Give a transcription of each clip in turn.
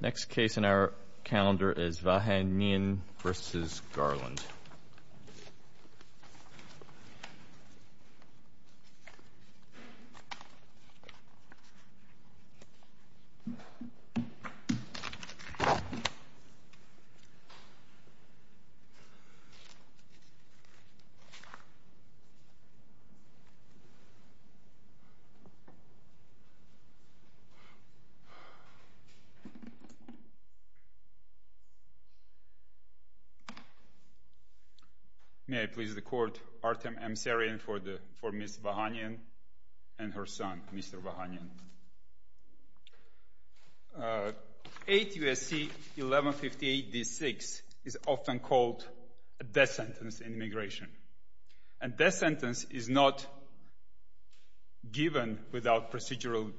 Next case in our calendar is Vahanyan v. Garland. May I please the Court, Artem Emserian for Ms. Vahanyan and her son, Mr. Vahanyan. 8 U.S.C. 1158 D.6 is often called a death sentence in immigration. And death sentence is not given without procedural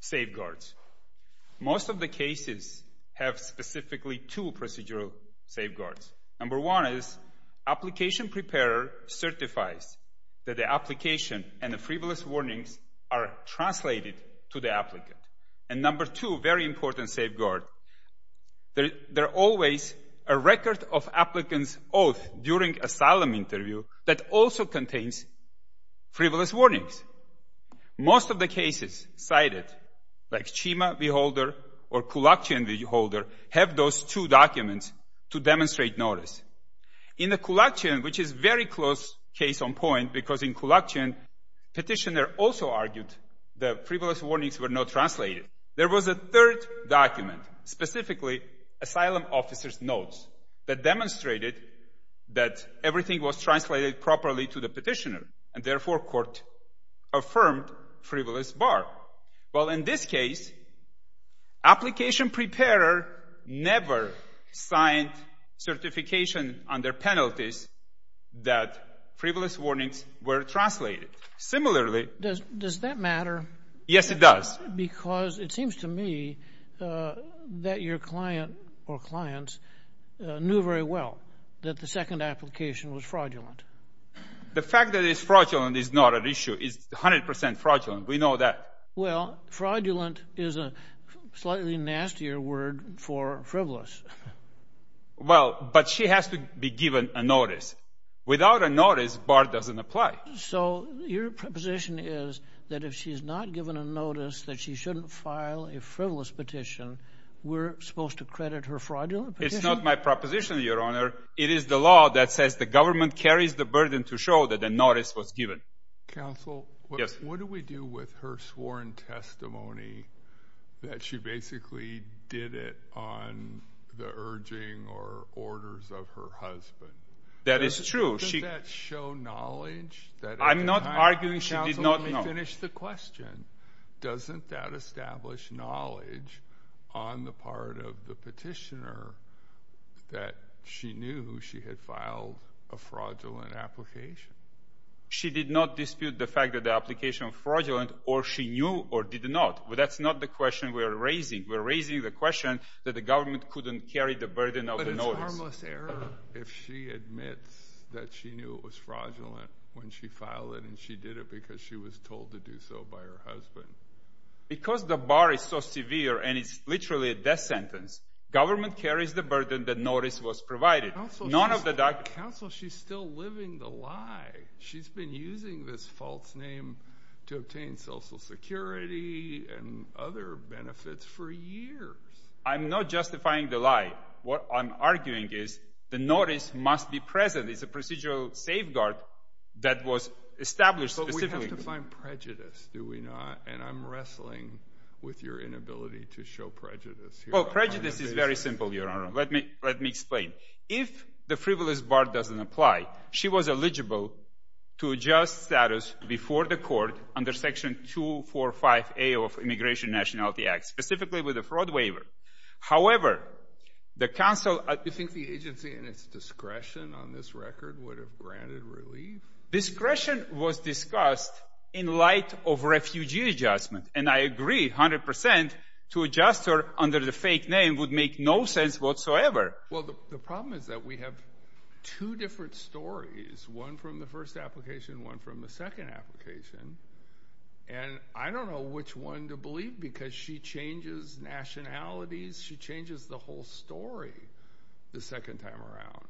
safeguards. Most of the cases have specifically two procedural safeguards. Number one is application preparer certifies that the application and the frivolous warnings are translated to the applicant. And number two, very important safeguard, there are always a record of applicant's oath during asylum interview that also contains frivolous warnings. Most of the cases cited, like Chima v. Holder or Kulakchian v. Holder, have those two documents to demonstrate notice. In the Kulakchian, which is very close case on point because in Kulakchian, petitioner also argued that frivolous warnings were not translated. There was a third document, specifically asylum officer's notes, that demonstrated that everything was translated properly to the petitioner. And therefore, court affirmed frivolous bar. Well, in this case, application preparer never signed certification under penalties that frivolous warnings were translated. Similarly... Does that matter? Yes, it does. Because it seems to me that your client or clients knew very well that the second application was fraudulent. The fact that it's fraudulent is not an issue. It's 100% fraudulent. We know that. Well, fraudulent is a slightly nastier word for frivolous. Well, but she has to be given a notice. Without a notice, bar doesn't apply. So your proposition is that if she's not given a notice that she shouldn't file a frivolous petition, we're supposed to credit her fraudulent petition? It's not my proposition, Your Honor. It is the law that says the government carries the burden to show that a notice was given. Counsel, what do we do with her sworn testimony that she basically did it on the urging or orders of her husband? That is true. Doesn't that show knowledge? I'm not arguing she did not know. Let me finish the question. Doesn't that establish knowledge on the part of the petitioner that she knew she had filed a fraudulent application? She did not dispute the fact that the application was fraudulent, or she knew or did not. But that's not the question we're raising. We're raising the question that the government couldn't carry the burden of the notice. But it's harmless error. What if she admits that she knew it was fraudulent when she filed it and she did it because she was told to do so by her husband? Because the bar is so severe and it's literally a death sentence, government carries the burden that notice was provided. Counsel, she's still living the lie. She's been using this false name to obtain Social Security and other benefits for years. I'm not justifying the lie. What I'm arguing is the notice must be present. It's a procedural safeguard that was established. But we have to find prejudice, do we not? And I'm wrestling with your inability to show prejudice here. Well, prejudice is very simple, Your Honor. Let me explain. If the frivolous bar doesn't apply, she was eligible to adjust status before the court under Section 245A of Immigration Nationality Act, specifically with a fraud waiver. However, the counsel… Do you think the agency in its discretion on this record would have granted relief? Discretion was discussed in light of refugee adjustment. And I agree 100% to adjust her under the fake name would make no sense whatsoever. Well, the problem is that we have two different stories, one from the first application, one from the second application. And I don't know which one to believe because she changes nationalities. She changes the whole story the second time around.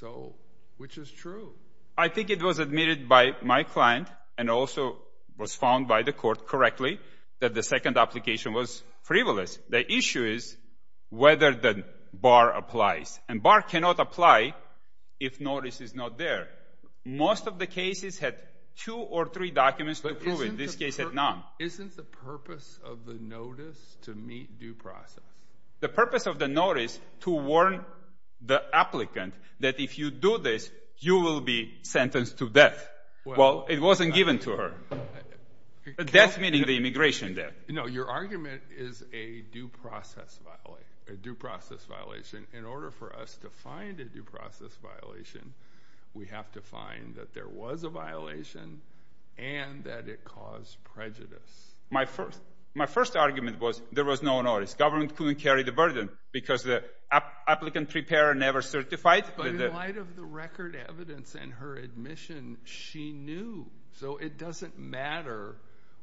So, which is true? I think it was admitted by my client and also was found by the court correctly that the second application was frivolous. The issue is whether the bar applies. And bar cannot apply if notice is not there. Most of the cases had two or three documents to prove it. This case had none. Isn't the purpose of the notice to meet due process? The purpose of the notice to warn the applicant that if you do this, you will be sentenced to death. Well, it wasn't given to her. Death meaning the immigration debt. No, your argument is a due process violation. In order for us to find a due process violation, we have to find that there was a violation and that it caused prejudice. My first argument was there was no notice. Government couldn't carry the burden because the applicant prepared and never certified. But in light of the record evidence and her admission, she knew. So, it doesn't matter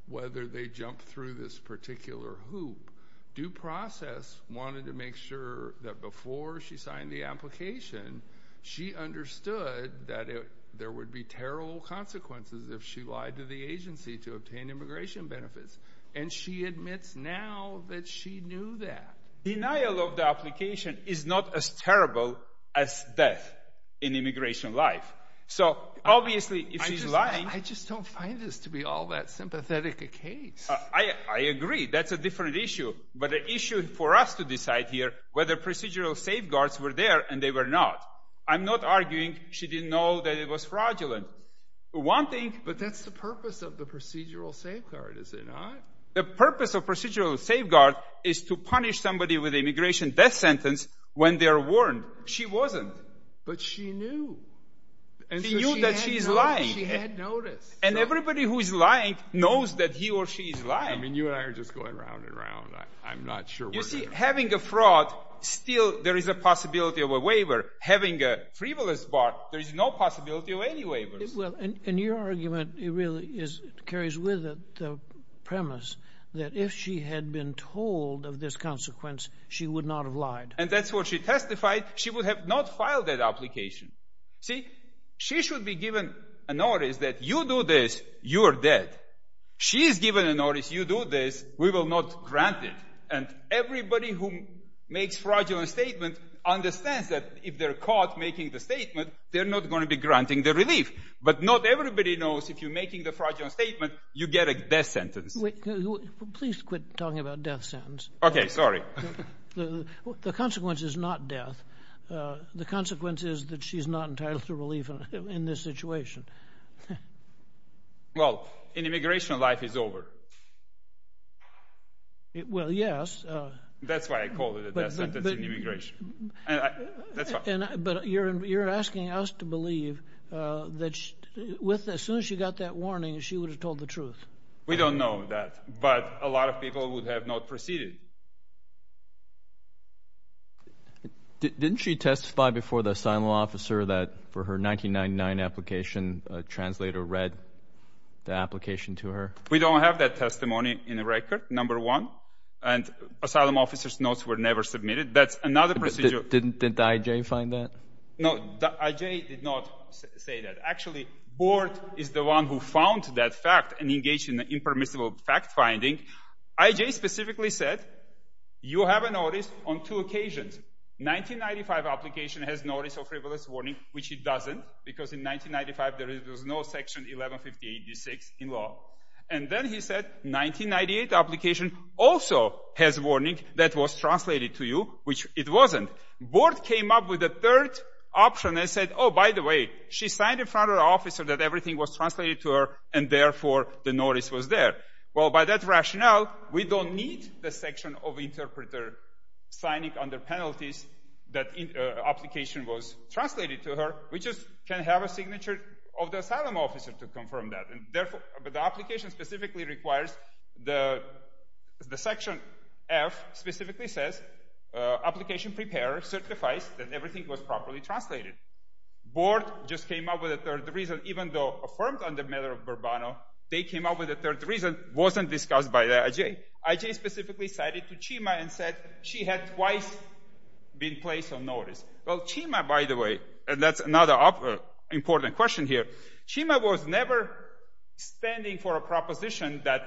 whether they jumped through this particular hoop. Due process wanted to make sure that before she signed the application, she understood that there would be terrible consequences if she lied to the agency to obtain immigration benefits. And she admits now that she knew that. Denial of the application is not as terrible as death in immigration life. So, obviously, if she's lying… I just don't find this to be all that sympathetic a case. I agree. That's a different issue. But the issue for us to decide here whether procedural safeguards were there and they were not. I'm not arguing she didn't know that it was fraudulent. One thing… But that's the purpose of the procedural safeguard, is it not? The purpose of procedural safeguard is to punish somebody with immigration death sentence when they are warned. She wasn't. But she knew. She knew that she's lying. She had notice. And everybody who is lying knows that he or she is lying. I mean, you and I are just going round and round. I'm not sure… You see, having a fraud, still there is a possibility of a waiver. Having a frivolous part, there is no possibility of any waiver. And your argument really carries with it the premise that if she had been told of this consequence, she would not have lied. And that's what she testified. She would have not filed that application. See? She should be given a notice that you do this, you are dead. She is given a notice, you do this, we will not grant it. And everybody who makes fraudulent statement understands that if they're caught making the statement, they're not going to be granting the relief. But not everybody knows if you're making the fraudulent statement, you get a death sentence. Please quit talking about death sentence. Okay. Sorry. The consequence is not death. The consequence is that she is not entitled to relief in this situation. Well, in immigration, life is over. Well, yes. That's why I called it a death sentence in immigration. But you're asking us to believe that as soon as she got that warning, she would have told the truth. We don't know that. But a lot of people would have not proceeded. Didn't she testify before the asylum officer that for her 1999 application, a translator read the application to her? We don't have that testimony in the record, number one. And asylum officer's notes were never submitted. That's another procedure. Didn't the IJ find that? No, the IJ did not say that. Actually, board is the one who found that fact and engaged in the impermissible fact finding. IJ specifically said, you have a notice on two occasions. 1995 application has notice of frivolous warning, which it doesn't, because in 1995 there was no section 1158-6 in law. And then he said 1998 application also has warning that was translated to you, which it wasn't. Board came up with a third option and said, oh, by the way, she signed in front of the officer that everything was translated to her, and therefore the notice was there. Well, by that rationale, we don't need the section of interpreter signing under penalties that application was translated to her. We just can have a signature of the asylum officer to confirm that. But the application specifically requires the section F specifically says, application prepared, certifies that everything was properly translated. Board just came up with a third reason, even though affirmed under matter of Burbano, they came up with a third reason, wasn't discussed by the IJ. IJ specifically cited to Chima and said she had twice been placed on notice. Well, Chima, by the way, and that's another important question here, Chima was never standing for a proposition that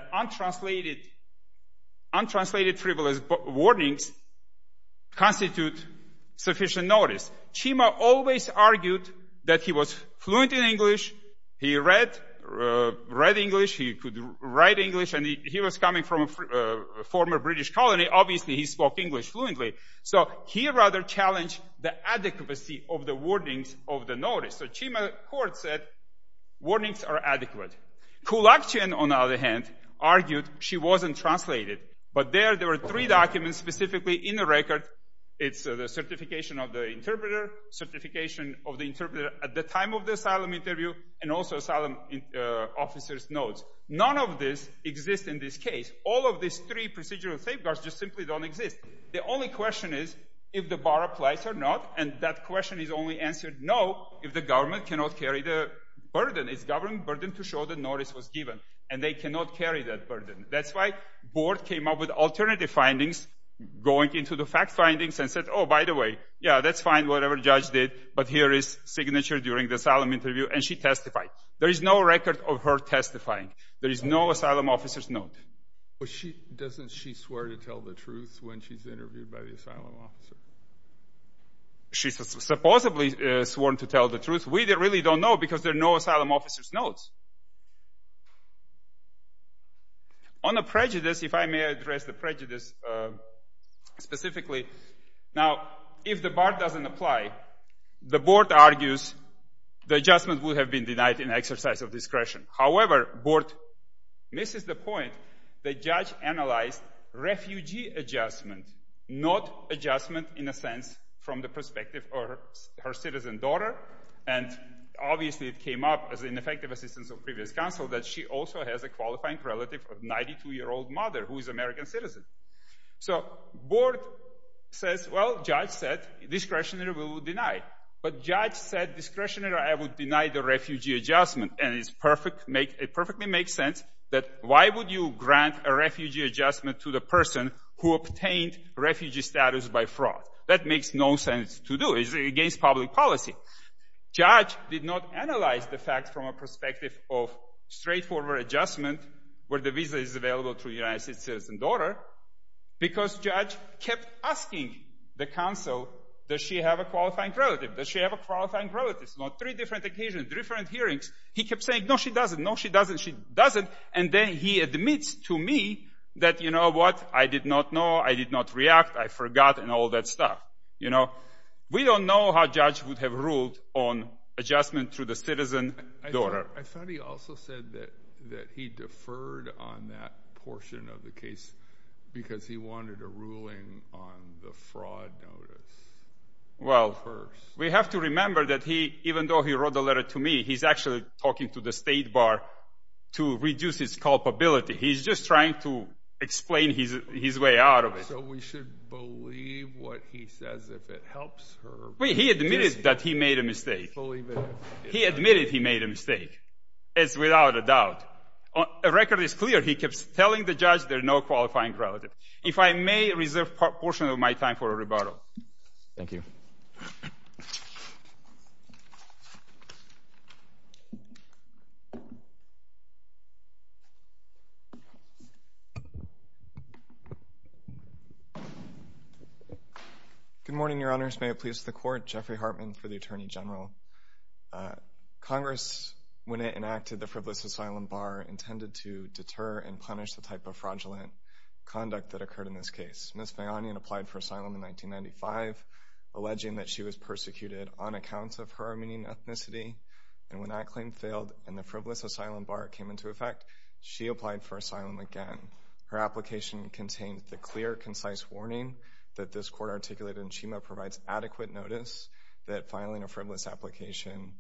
untranslated frivolous warnings constitute sufficient notice. Chima always argued that he was fluent in English. He read English. He could write English, and he was coming from a former British colony. Obviously, he spoke English fluently. So he rather challenged the adequacy of the warnings of the notice. So Chima court said warnings are adequate. Kulakchin, on the other hand, argued she wasn't translated. But there, there were three documents specifically in the record. It's the certification of the interpreter, certification of the interpreter at the time of the asylum interview, and also asylum officer's notes. None of this exists in this case. All of these three procedural safeguards just simply don't exist. The only question is if the bar applies or not, and that question is only answered no if the government cannot carry the burden. It's government burden to show the notice was given, and they cannot carry that burden. That's why board came up with alternative findings going into the fact findings and said, oh, by the way, yeah, that's fine, whatever the judge did, but here is signature during the asylum interview, and she testified. There is no record of her testifying. There is no asylum officer's note. But doesn't she swear to tell the truth when she's interviewed by the asylum officer? She supposedly sworn to tell the truth. We really don't know because there are no asylum officer's notes. On the prejudice, if I may address the prejudice specifically. Now, if the bar doesn't apply, the board argues the adjustment would have been denied in exercise of discretion. However, board misses the point. The judge analyzed refugee adjustment, not adjustment in a sense from the perspective of her citizen daughter, and obviously it came up as ineffective assistance of previous counsel that she also has a qualifying relative of 92-year-old mother who is American citizen. So board says, well, judge said discretionary rule denied, but judge said discretionary rule denied the refugee adjustment, and it perfectly makes sense that why would you grant a refugee adjustment to the person who obtained refugee status by fraud? That makes no sense to do. It's against public policy. Judge did not analyze the fact from a perspective of straightforward adjustment where the visa is available to United States citizen daughter because judge kept asking the counsel, does she have a qualifying relative? Does she have a qualifying relative? It's not three different occasions, different hearings. He kept saying, no, she doesn't. No, she doesn't. She doesn't. And then he admits to me that, you know what? I did not know. I did not react. I forgot and all that stuff. You know, we don't know how judge would have ruled on adjustment to the citizen daughter. I thought he also said that he deferred on that portion of the case because he wanted a ruling on the fraud notice. Well, we have to remember that even though he wrote the letter to me, he's actually talking to the state bar to reduce his culpability. He's just trying to explain his way out of it. So we should believe what he says if it helps her. He admitted that he made a mistake. He admitted he made a mistake. It's without a doubt. The record is clear. He kept telling the judge there's no qualifying relative. If I may reserve a portion of my time for a rebuttal. Thank you. Good morning, Your Honors. May it please the Court. Jeffrey Hartman for the Attorney General. Congress, when it enacted the frivolous asylum bar, intended to deter and punish the type of fraudulent conduct that occurred in this case. Ms. Fayanian applied for asylum in 1995, alleging that she was persecuted on account of her Armenian ethnicity. And when that claim failed and the frivolous asylum bar came into effect, she applied for asylum again. Her application contained the clear, concise warning that this court articulated in CHEMA provides adequate notice that filing a frivolous application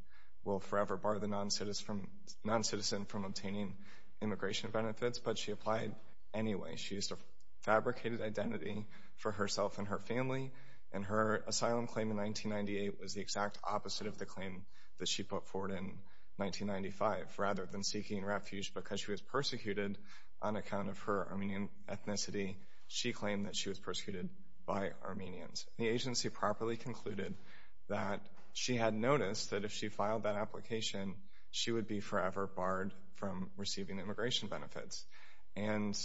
will forever bar the noncitizen from obtaining immigration benefits. But she applied anyway. She used a fabricated identity for herself and her family. And her asylum claim in 1998 was the exact opposite of the claim that she put forward in 1995, rather than seeking refuge because she was persecuted on account of her Armenian ethnicity, she claimed that she was persecuted by Armenians. The agency properly concluded that she had noticed that if she filed that application, she would be forever barred from receiving immigration benefits. And,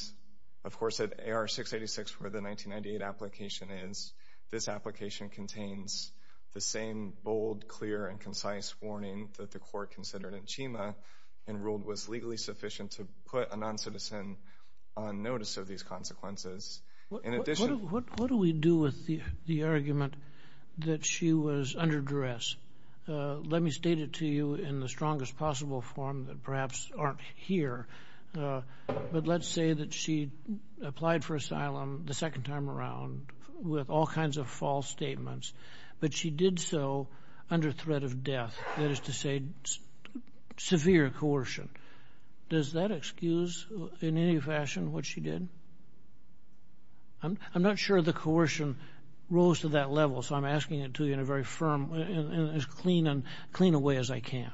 of course, at AR-686 where the 1998 application is, this application contains the same bold, clear, and concise warning that the court considered in CHEMA and ruled was legally sufficient to put a noncitizen on notice of these consequences. In addition— What do we do with the argument that she was under duress? Let me state it to you in the strongest possible form that perhaps aren't here. But let's say that she applied for asylum the second time around with all kinds of false statements, but she did so under threat of death, that is to say severe coercion. Does that excuse in any fashion what she did? I'm not sure the coercion rose to that level, so I'm asking it to you in a very firm and as clean a way as I can.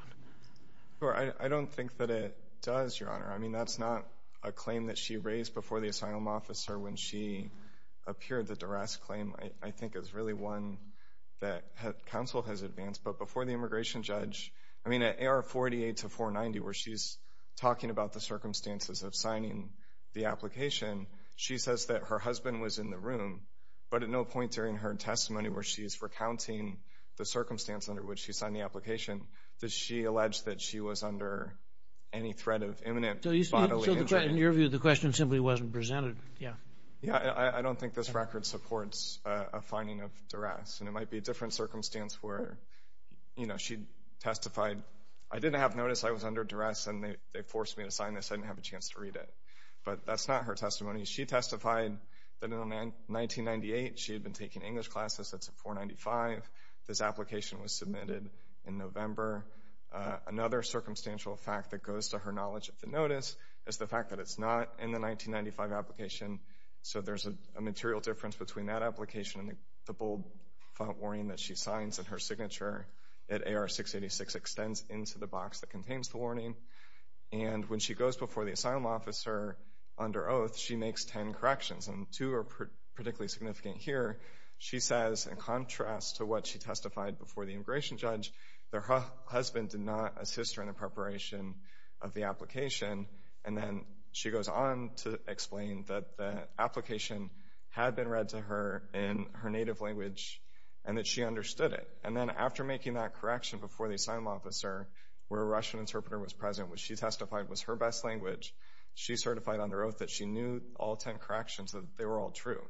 I don't think that it does, Your Honor. I mean, that's not a claim that she raised before the asylum officer when she appeared. The duress claim, I think, is really one that counsel has advanced. But before the immigration judge—I mean, at AR-48 to 490, where she's talking about the circumstances of signing the application, she says that her husband was in the room, but at no point during her testimony where she's recounting the circumstance under which she signed the application does she allege that she was under any threat of imminent bodily injury. So in your view, the question simply wasn't presented. Yeah, I don't think this record supports a finding of duress, and it might be a different circumstance where she testified, I didn't have notice I was under duress, and they forced me to sign this. I didn't have a chance to read it. But that's not her testimony. She testified that in 1998 she had been taking English classes since 495. This application was submitted in November. Another circumstantial fact that goes to her knowledge of the notice is the fact that it's not in the 1995 application. So there's a material difference between that application and the bold font warning that she signs in her signature that AR-686 extends into the box that contains the warning. And when she goes before the asylum officer under oath, she makes ten corrections, and two are particularly significant here. She says, in contrast to what she testified before the immigration judge, their husband did not assist her in the preparation of the application. And then she goes on to explain that the application had been read to her in her native language and that she understood it. And then after making that correction before the asylum officer, where a Russian interpreter was present, which she testified was her best language, she certified under oath that she knew all ten corrections, that they were all true.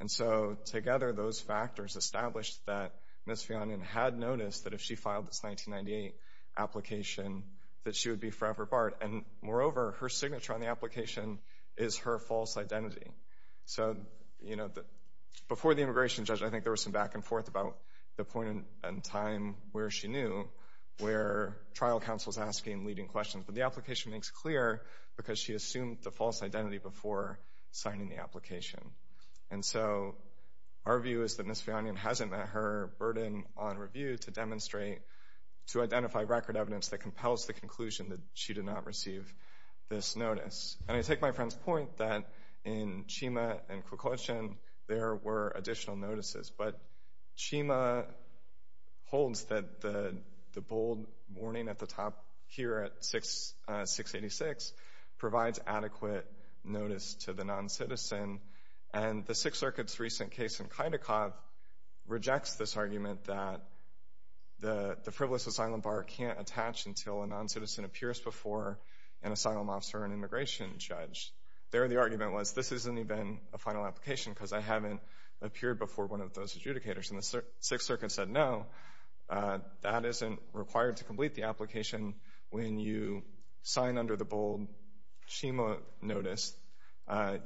And so together, those factors established that Ms. Fionnian had noticed that if she filed this 1998 application, that she would be forever barred. And moreover, her signature on the application is her false identity. So, you know, before the immigration judge, I think there was some back and forth about the point in time where she knew, where trial counsel is asking leading questions. But the application makes clear because she assumed the false identity before signing the application. And so our view is that Ms. Fionnian hasn't met her burden on review to demonstrate, to identify record evidence that compels the conclusion that she did not receive this notice. And I take my friend's point that in Chima and Kwikwetjen, there were additional notices. But Chima holds that the bold warning at the top here at 686 provides adequate notice to the non-citizen. And the Sixth Circuit's recent case in Kaidikov rejects this argument that the frivolous asylum bar can't attach until a non-citizen appears before an asylum officer or an immigration judge. There the argument was, this isn't even a final application because I haven't appeared before one of those adjudicators. And the Sixth Circuit said, no, that isn't required to complete the application when you sign under the bold Chima notice.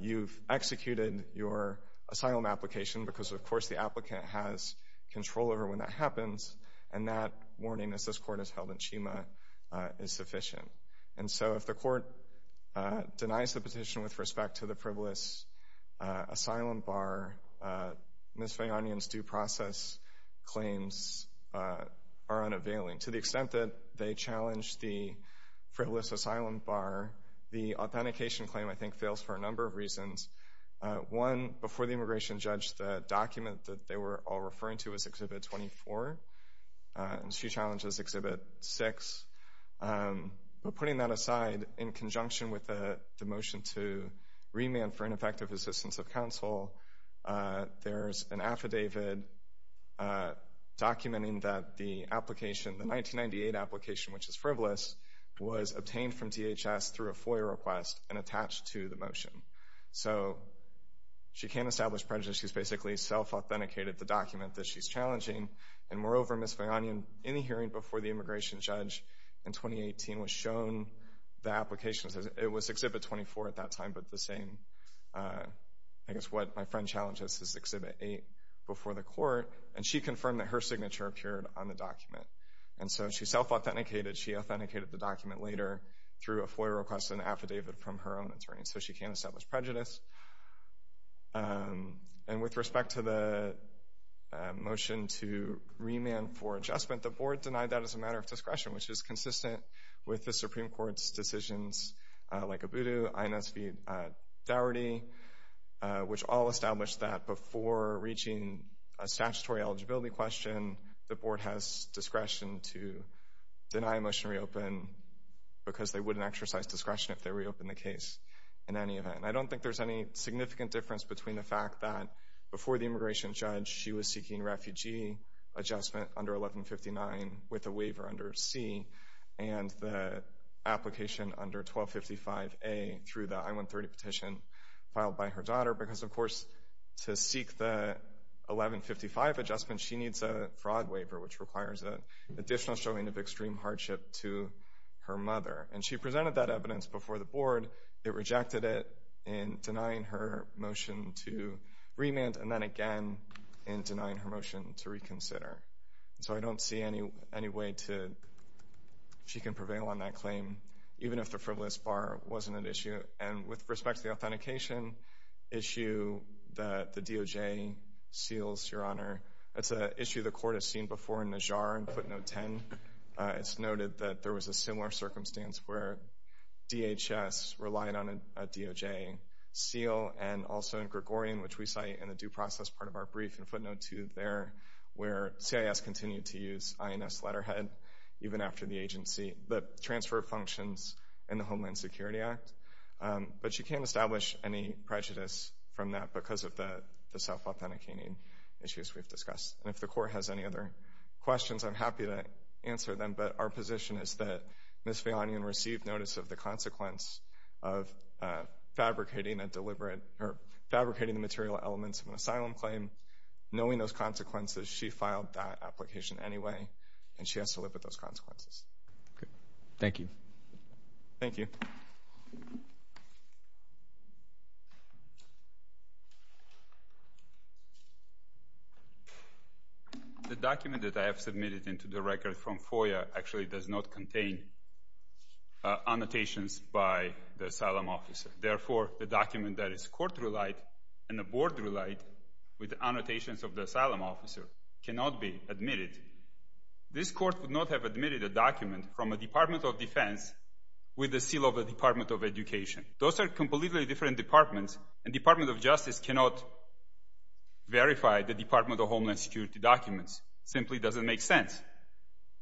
You've executed your asylum application because, of course, the applicant has control over when that happens. And that warning, as this Court has held in Chima, is sufficient. And so if the Court denies the petition with respect to the frivolous asylum bar, Ms. Fionnian's due process claims are unavailing, to the extent that they challenge the frivolous asylum bar. The authentication claim, I think, fails for a number of reasons. One, before the immigration judge, the document that they were all referring to was Exhibit 24, and she challenges Exhibit 6. But putting that aside, in conjunction with the motion to remand for ineffective assistance of counsel, there's an affidavit documenting that the application, the 1998 application, which is frivolous, was obtained from DHS through a FOIA request and attached to the motion. So she can't establish prejudice. She's basically self-authenticated the document that she's challenging. And moreover, Ms. Fionnian, in the hearing before the immigration judge in 2018, was shown the application. It was Exhibit 24 at that time, but the same, I guess, what my friend challenges is Exhibit 8 before the court, and she confirmed that her signature appeared on the document. And so she self-authenticated. She authenticated the document later through a FOIA request and affidavit from her own attorney. So she can't establish prejudice. And with respect to the motion to remand for adjustment, the Board denied that as a matter of discretion, which is consistent with the Supreme Court's decisions, like Obudu, INS v. Dougherty, which all established that before reaching a statutory eligibility question, the Board has discretion to deny a motion to reopen because they wouldn't exercise discretion if they reopened the case in any event. And I don't think there's any significant difference between the fact that before the immigration judge, she was seeking refugee adjustment under 1159 with a waiver under C and the application under 1255A through the I-130 petition filed by her daughter, because, of course, to seek the 1155 adjustment, she needs a fraud waiver, which requires an additional showing of extreme hardship to her mother. And she presented that evidence before the Board. It rejected it in denying her motion to remand and then again in denying her motion to reconsider. So I don't see any way she can prevail on that claim, even if the frivolous bar wasn't an issue. And with respect to the authentication issue that the DOJ seals, Your Honor, that's an issue the Court has seen before in Najjar in footnote 10. It's noted that there was a similar circumstance where DHS relied on a DOJ seal and also in Gregorian, which we cite in the due process part of our brief in footnote 2 there, where CIS continued to use INS letterhead even after the agency, the transfer of functions in the Homeland Security Act. But she can't establish any prejudice from that because of the self-authenticating issues we've discussed. And if the Court has any other questions, I'm happy to answer them. But our position is that Ms. Fejonian received notice of the consequence of fabricating the material elements of an asylum claim. Knowing those consequences, she filed that application anyway, and she has to live with those consequences. Thank you. Thank you. The document that I have submitted into the record from FOIA actually does not contain annotations by the asylum officer. Therefore, the document that is court relied and the board relied with annotations of the asylum officer cannot be admitted. This court would not have admitted a document from a Department of Defense with the seal of the Department of Education. Those are completely different departments, and Department of Justice cannot verify the Department of Homeland Security documents. It simply doesn't make sense.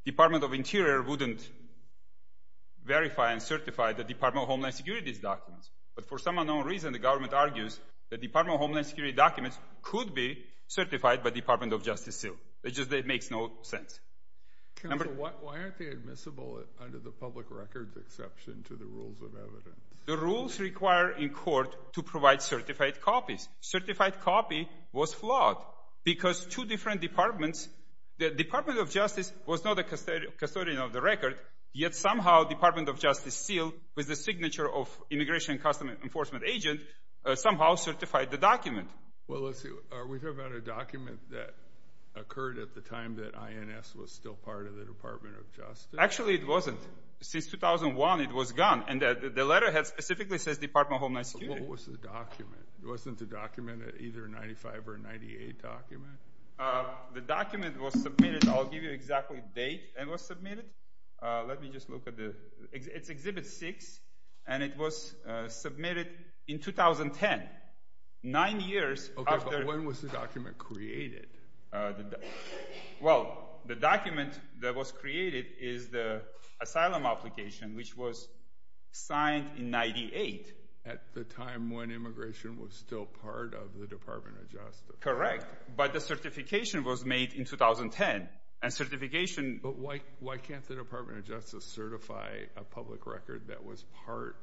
Department of Interior wouldn't verify and certify the Department of Homeland Security's documents. But for some unknown reason, the government argues that Department of Homeland Security documents could be certified by Department of Justice seal. It just makes no sense. Counsel, why aren't they admissible under the public records exception to the rules of evidence? The rules require in court to provide certified copies. Certified copy was flawed because two different departments, the Department of Justice was not a custodian of the record, yet somehow Department of Justice seal with the signature of Immigration and Customs Enforcement agent somehow certified the document. Well, let's see. Are we talking about a document that occurred at the time that INS was still part of the Department of Justice? Actually, it wasn't. Since 2001, it was gone, and the letter specifically says Department of Homeland Security. What was the document? Wasn't the document either a 95 or a 98 document? The document was submitted. I'll give you exactly the date it was submitted. Let me just look at the... It's Exhibit 6, and it was submitted in 2010. Nine years after... Okay, but when was the document created? Well, the document that was created is the asylum application, which was signed in 98. At the time when immigration was still part of the Department of Justice. Correct. But the certification was made in 2010, and certification... But why can't the Department of Justice certify a public record that was part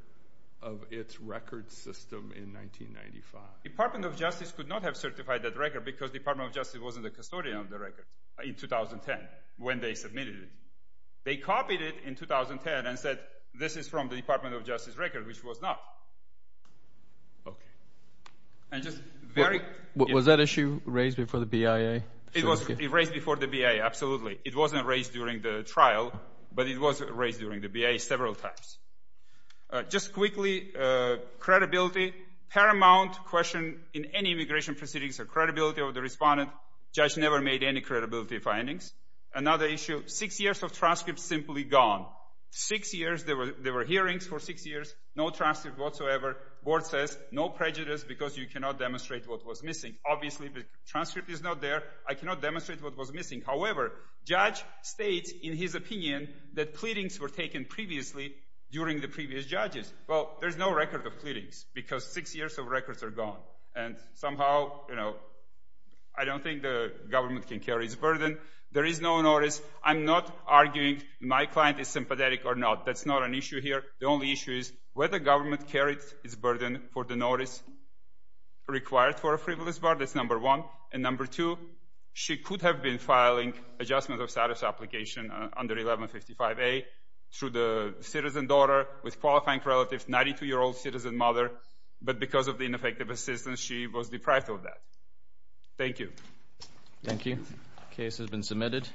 of its record system in 1995? Department of Justice could not have certified that record because Department of Justice wasn't a custodian of the record in 2010 when they submitted it. They copied it in 2010 and said, this is from the Department of Justice record, which it was not. Okay. Was that issue raised before the BIA? It was raised before the BIA, absolutely. It wasn't raised during the trial, but it was raised during the BIA several times. Just quickly, credibility. Paramount question in any immigration proceedings are credibility of the respondent. Judge never made any credibility findings. Another issue, six years of transcripts simply gone. Six years, there were hearings for six years, no transcripts whatsoever. Board says, no prejudice because you cannot demonstrate what was missing. Obviously, the transcript is not there. I cannot demonstrate what was missing. However, judge states in his opinion that pleadings were taken previously during the previous judges. Well, there's no record of pleadings because six years of records are gone. And somehow, you know, I don't think the government can carry its burden. There is no notice. I'm not arguing my client is sympathetic or not. That's not an issue here. The only issue is whether the government carried its burden for the notice required for a frivolous bar. That's number one. And number two, she could have been filing adjustment of status application under 1155A through the citizen daughter with qualifying relatives, 92-year-old citizen mother, but because of the ineffective assistance, she was deprived of that. Thank you. Thank you. Case has been submitted.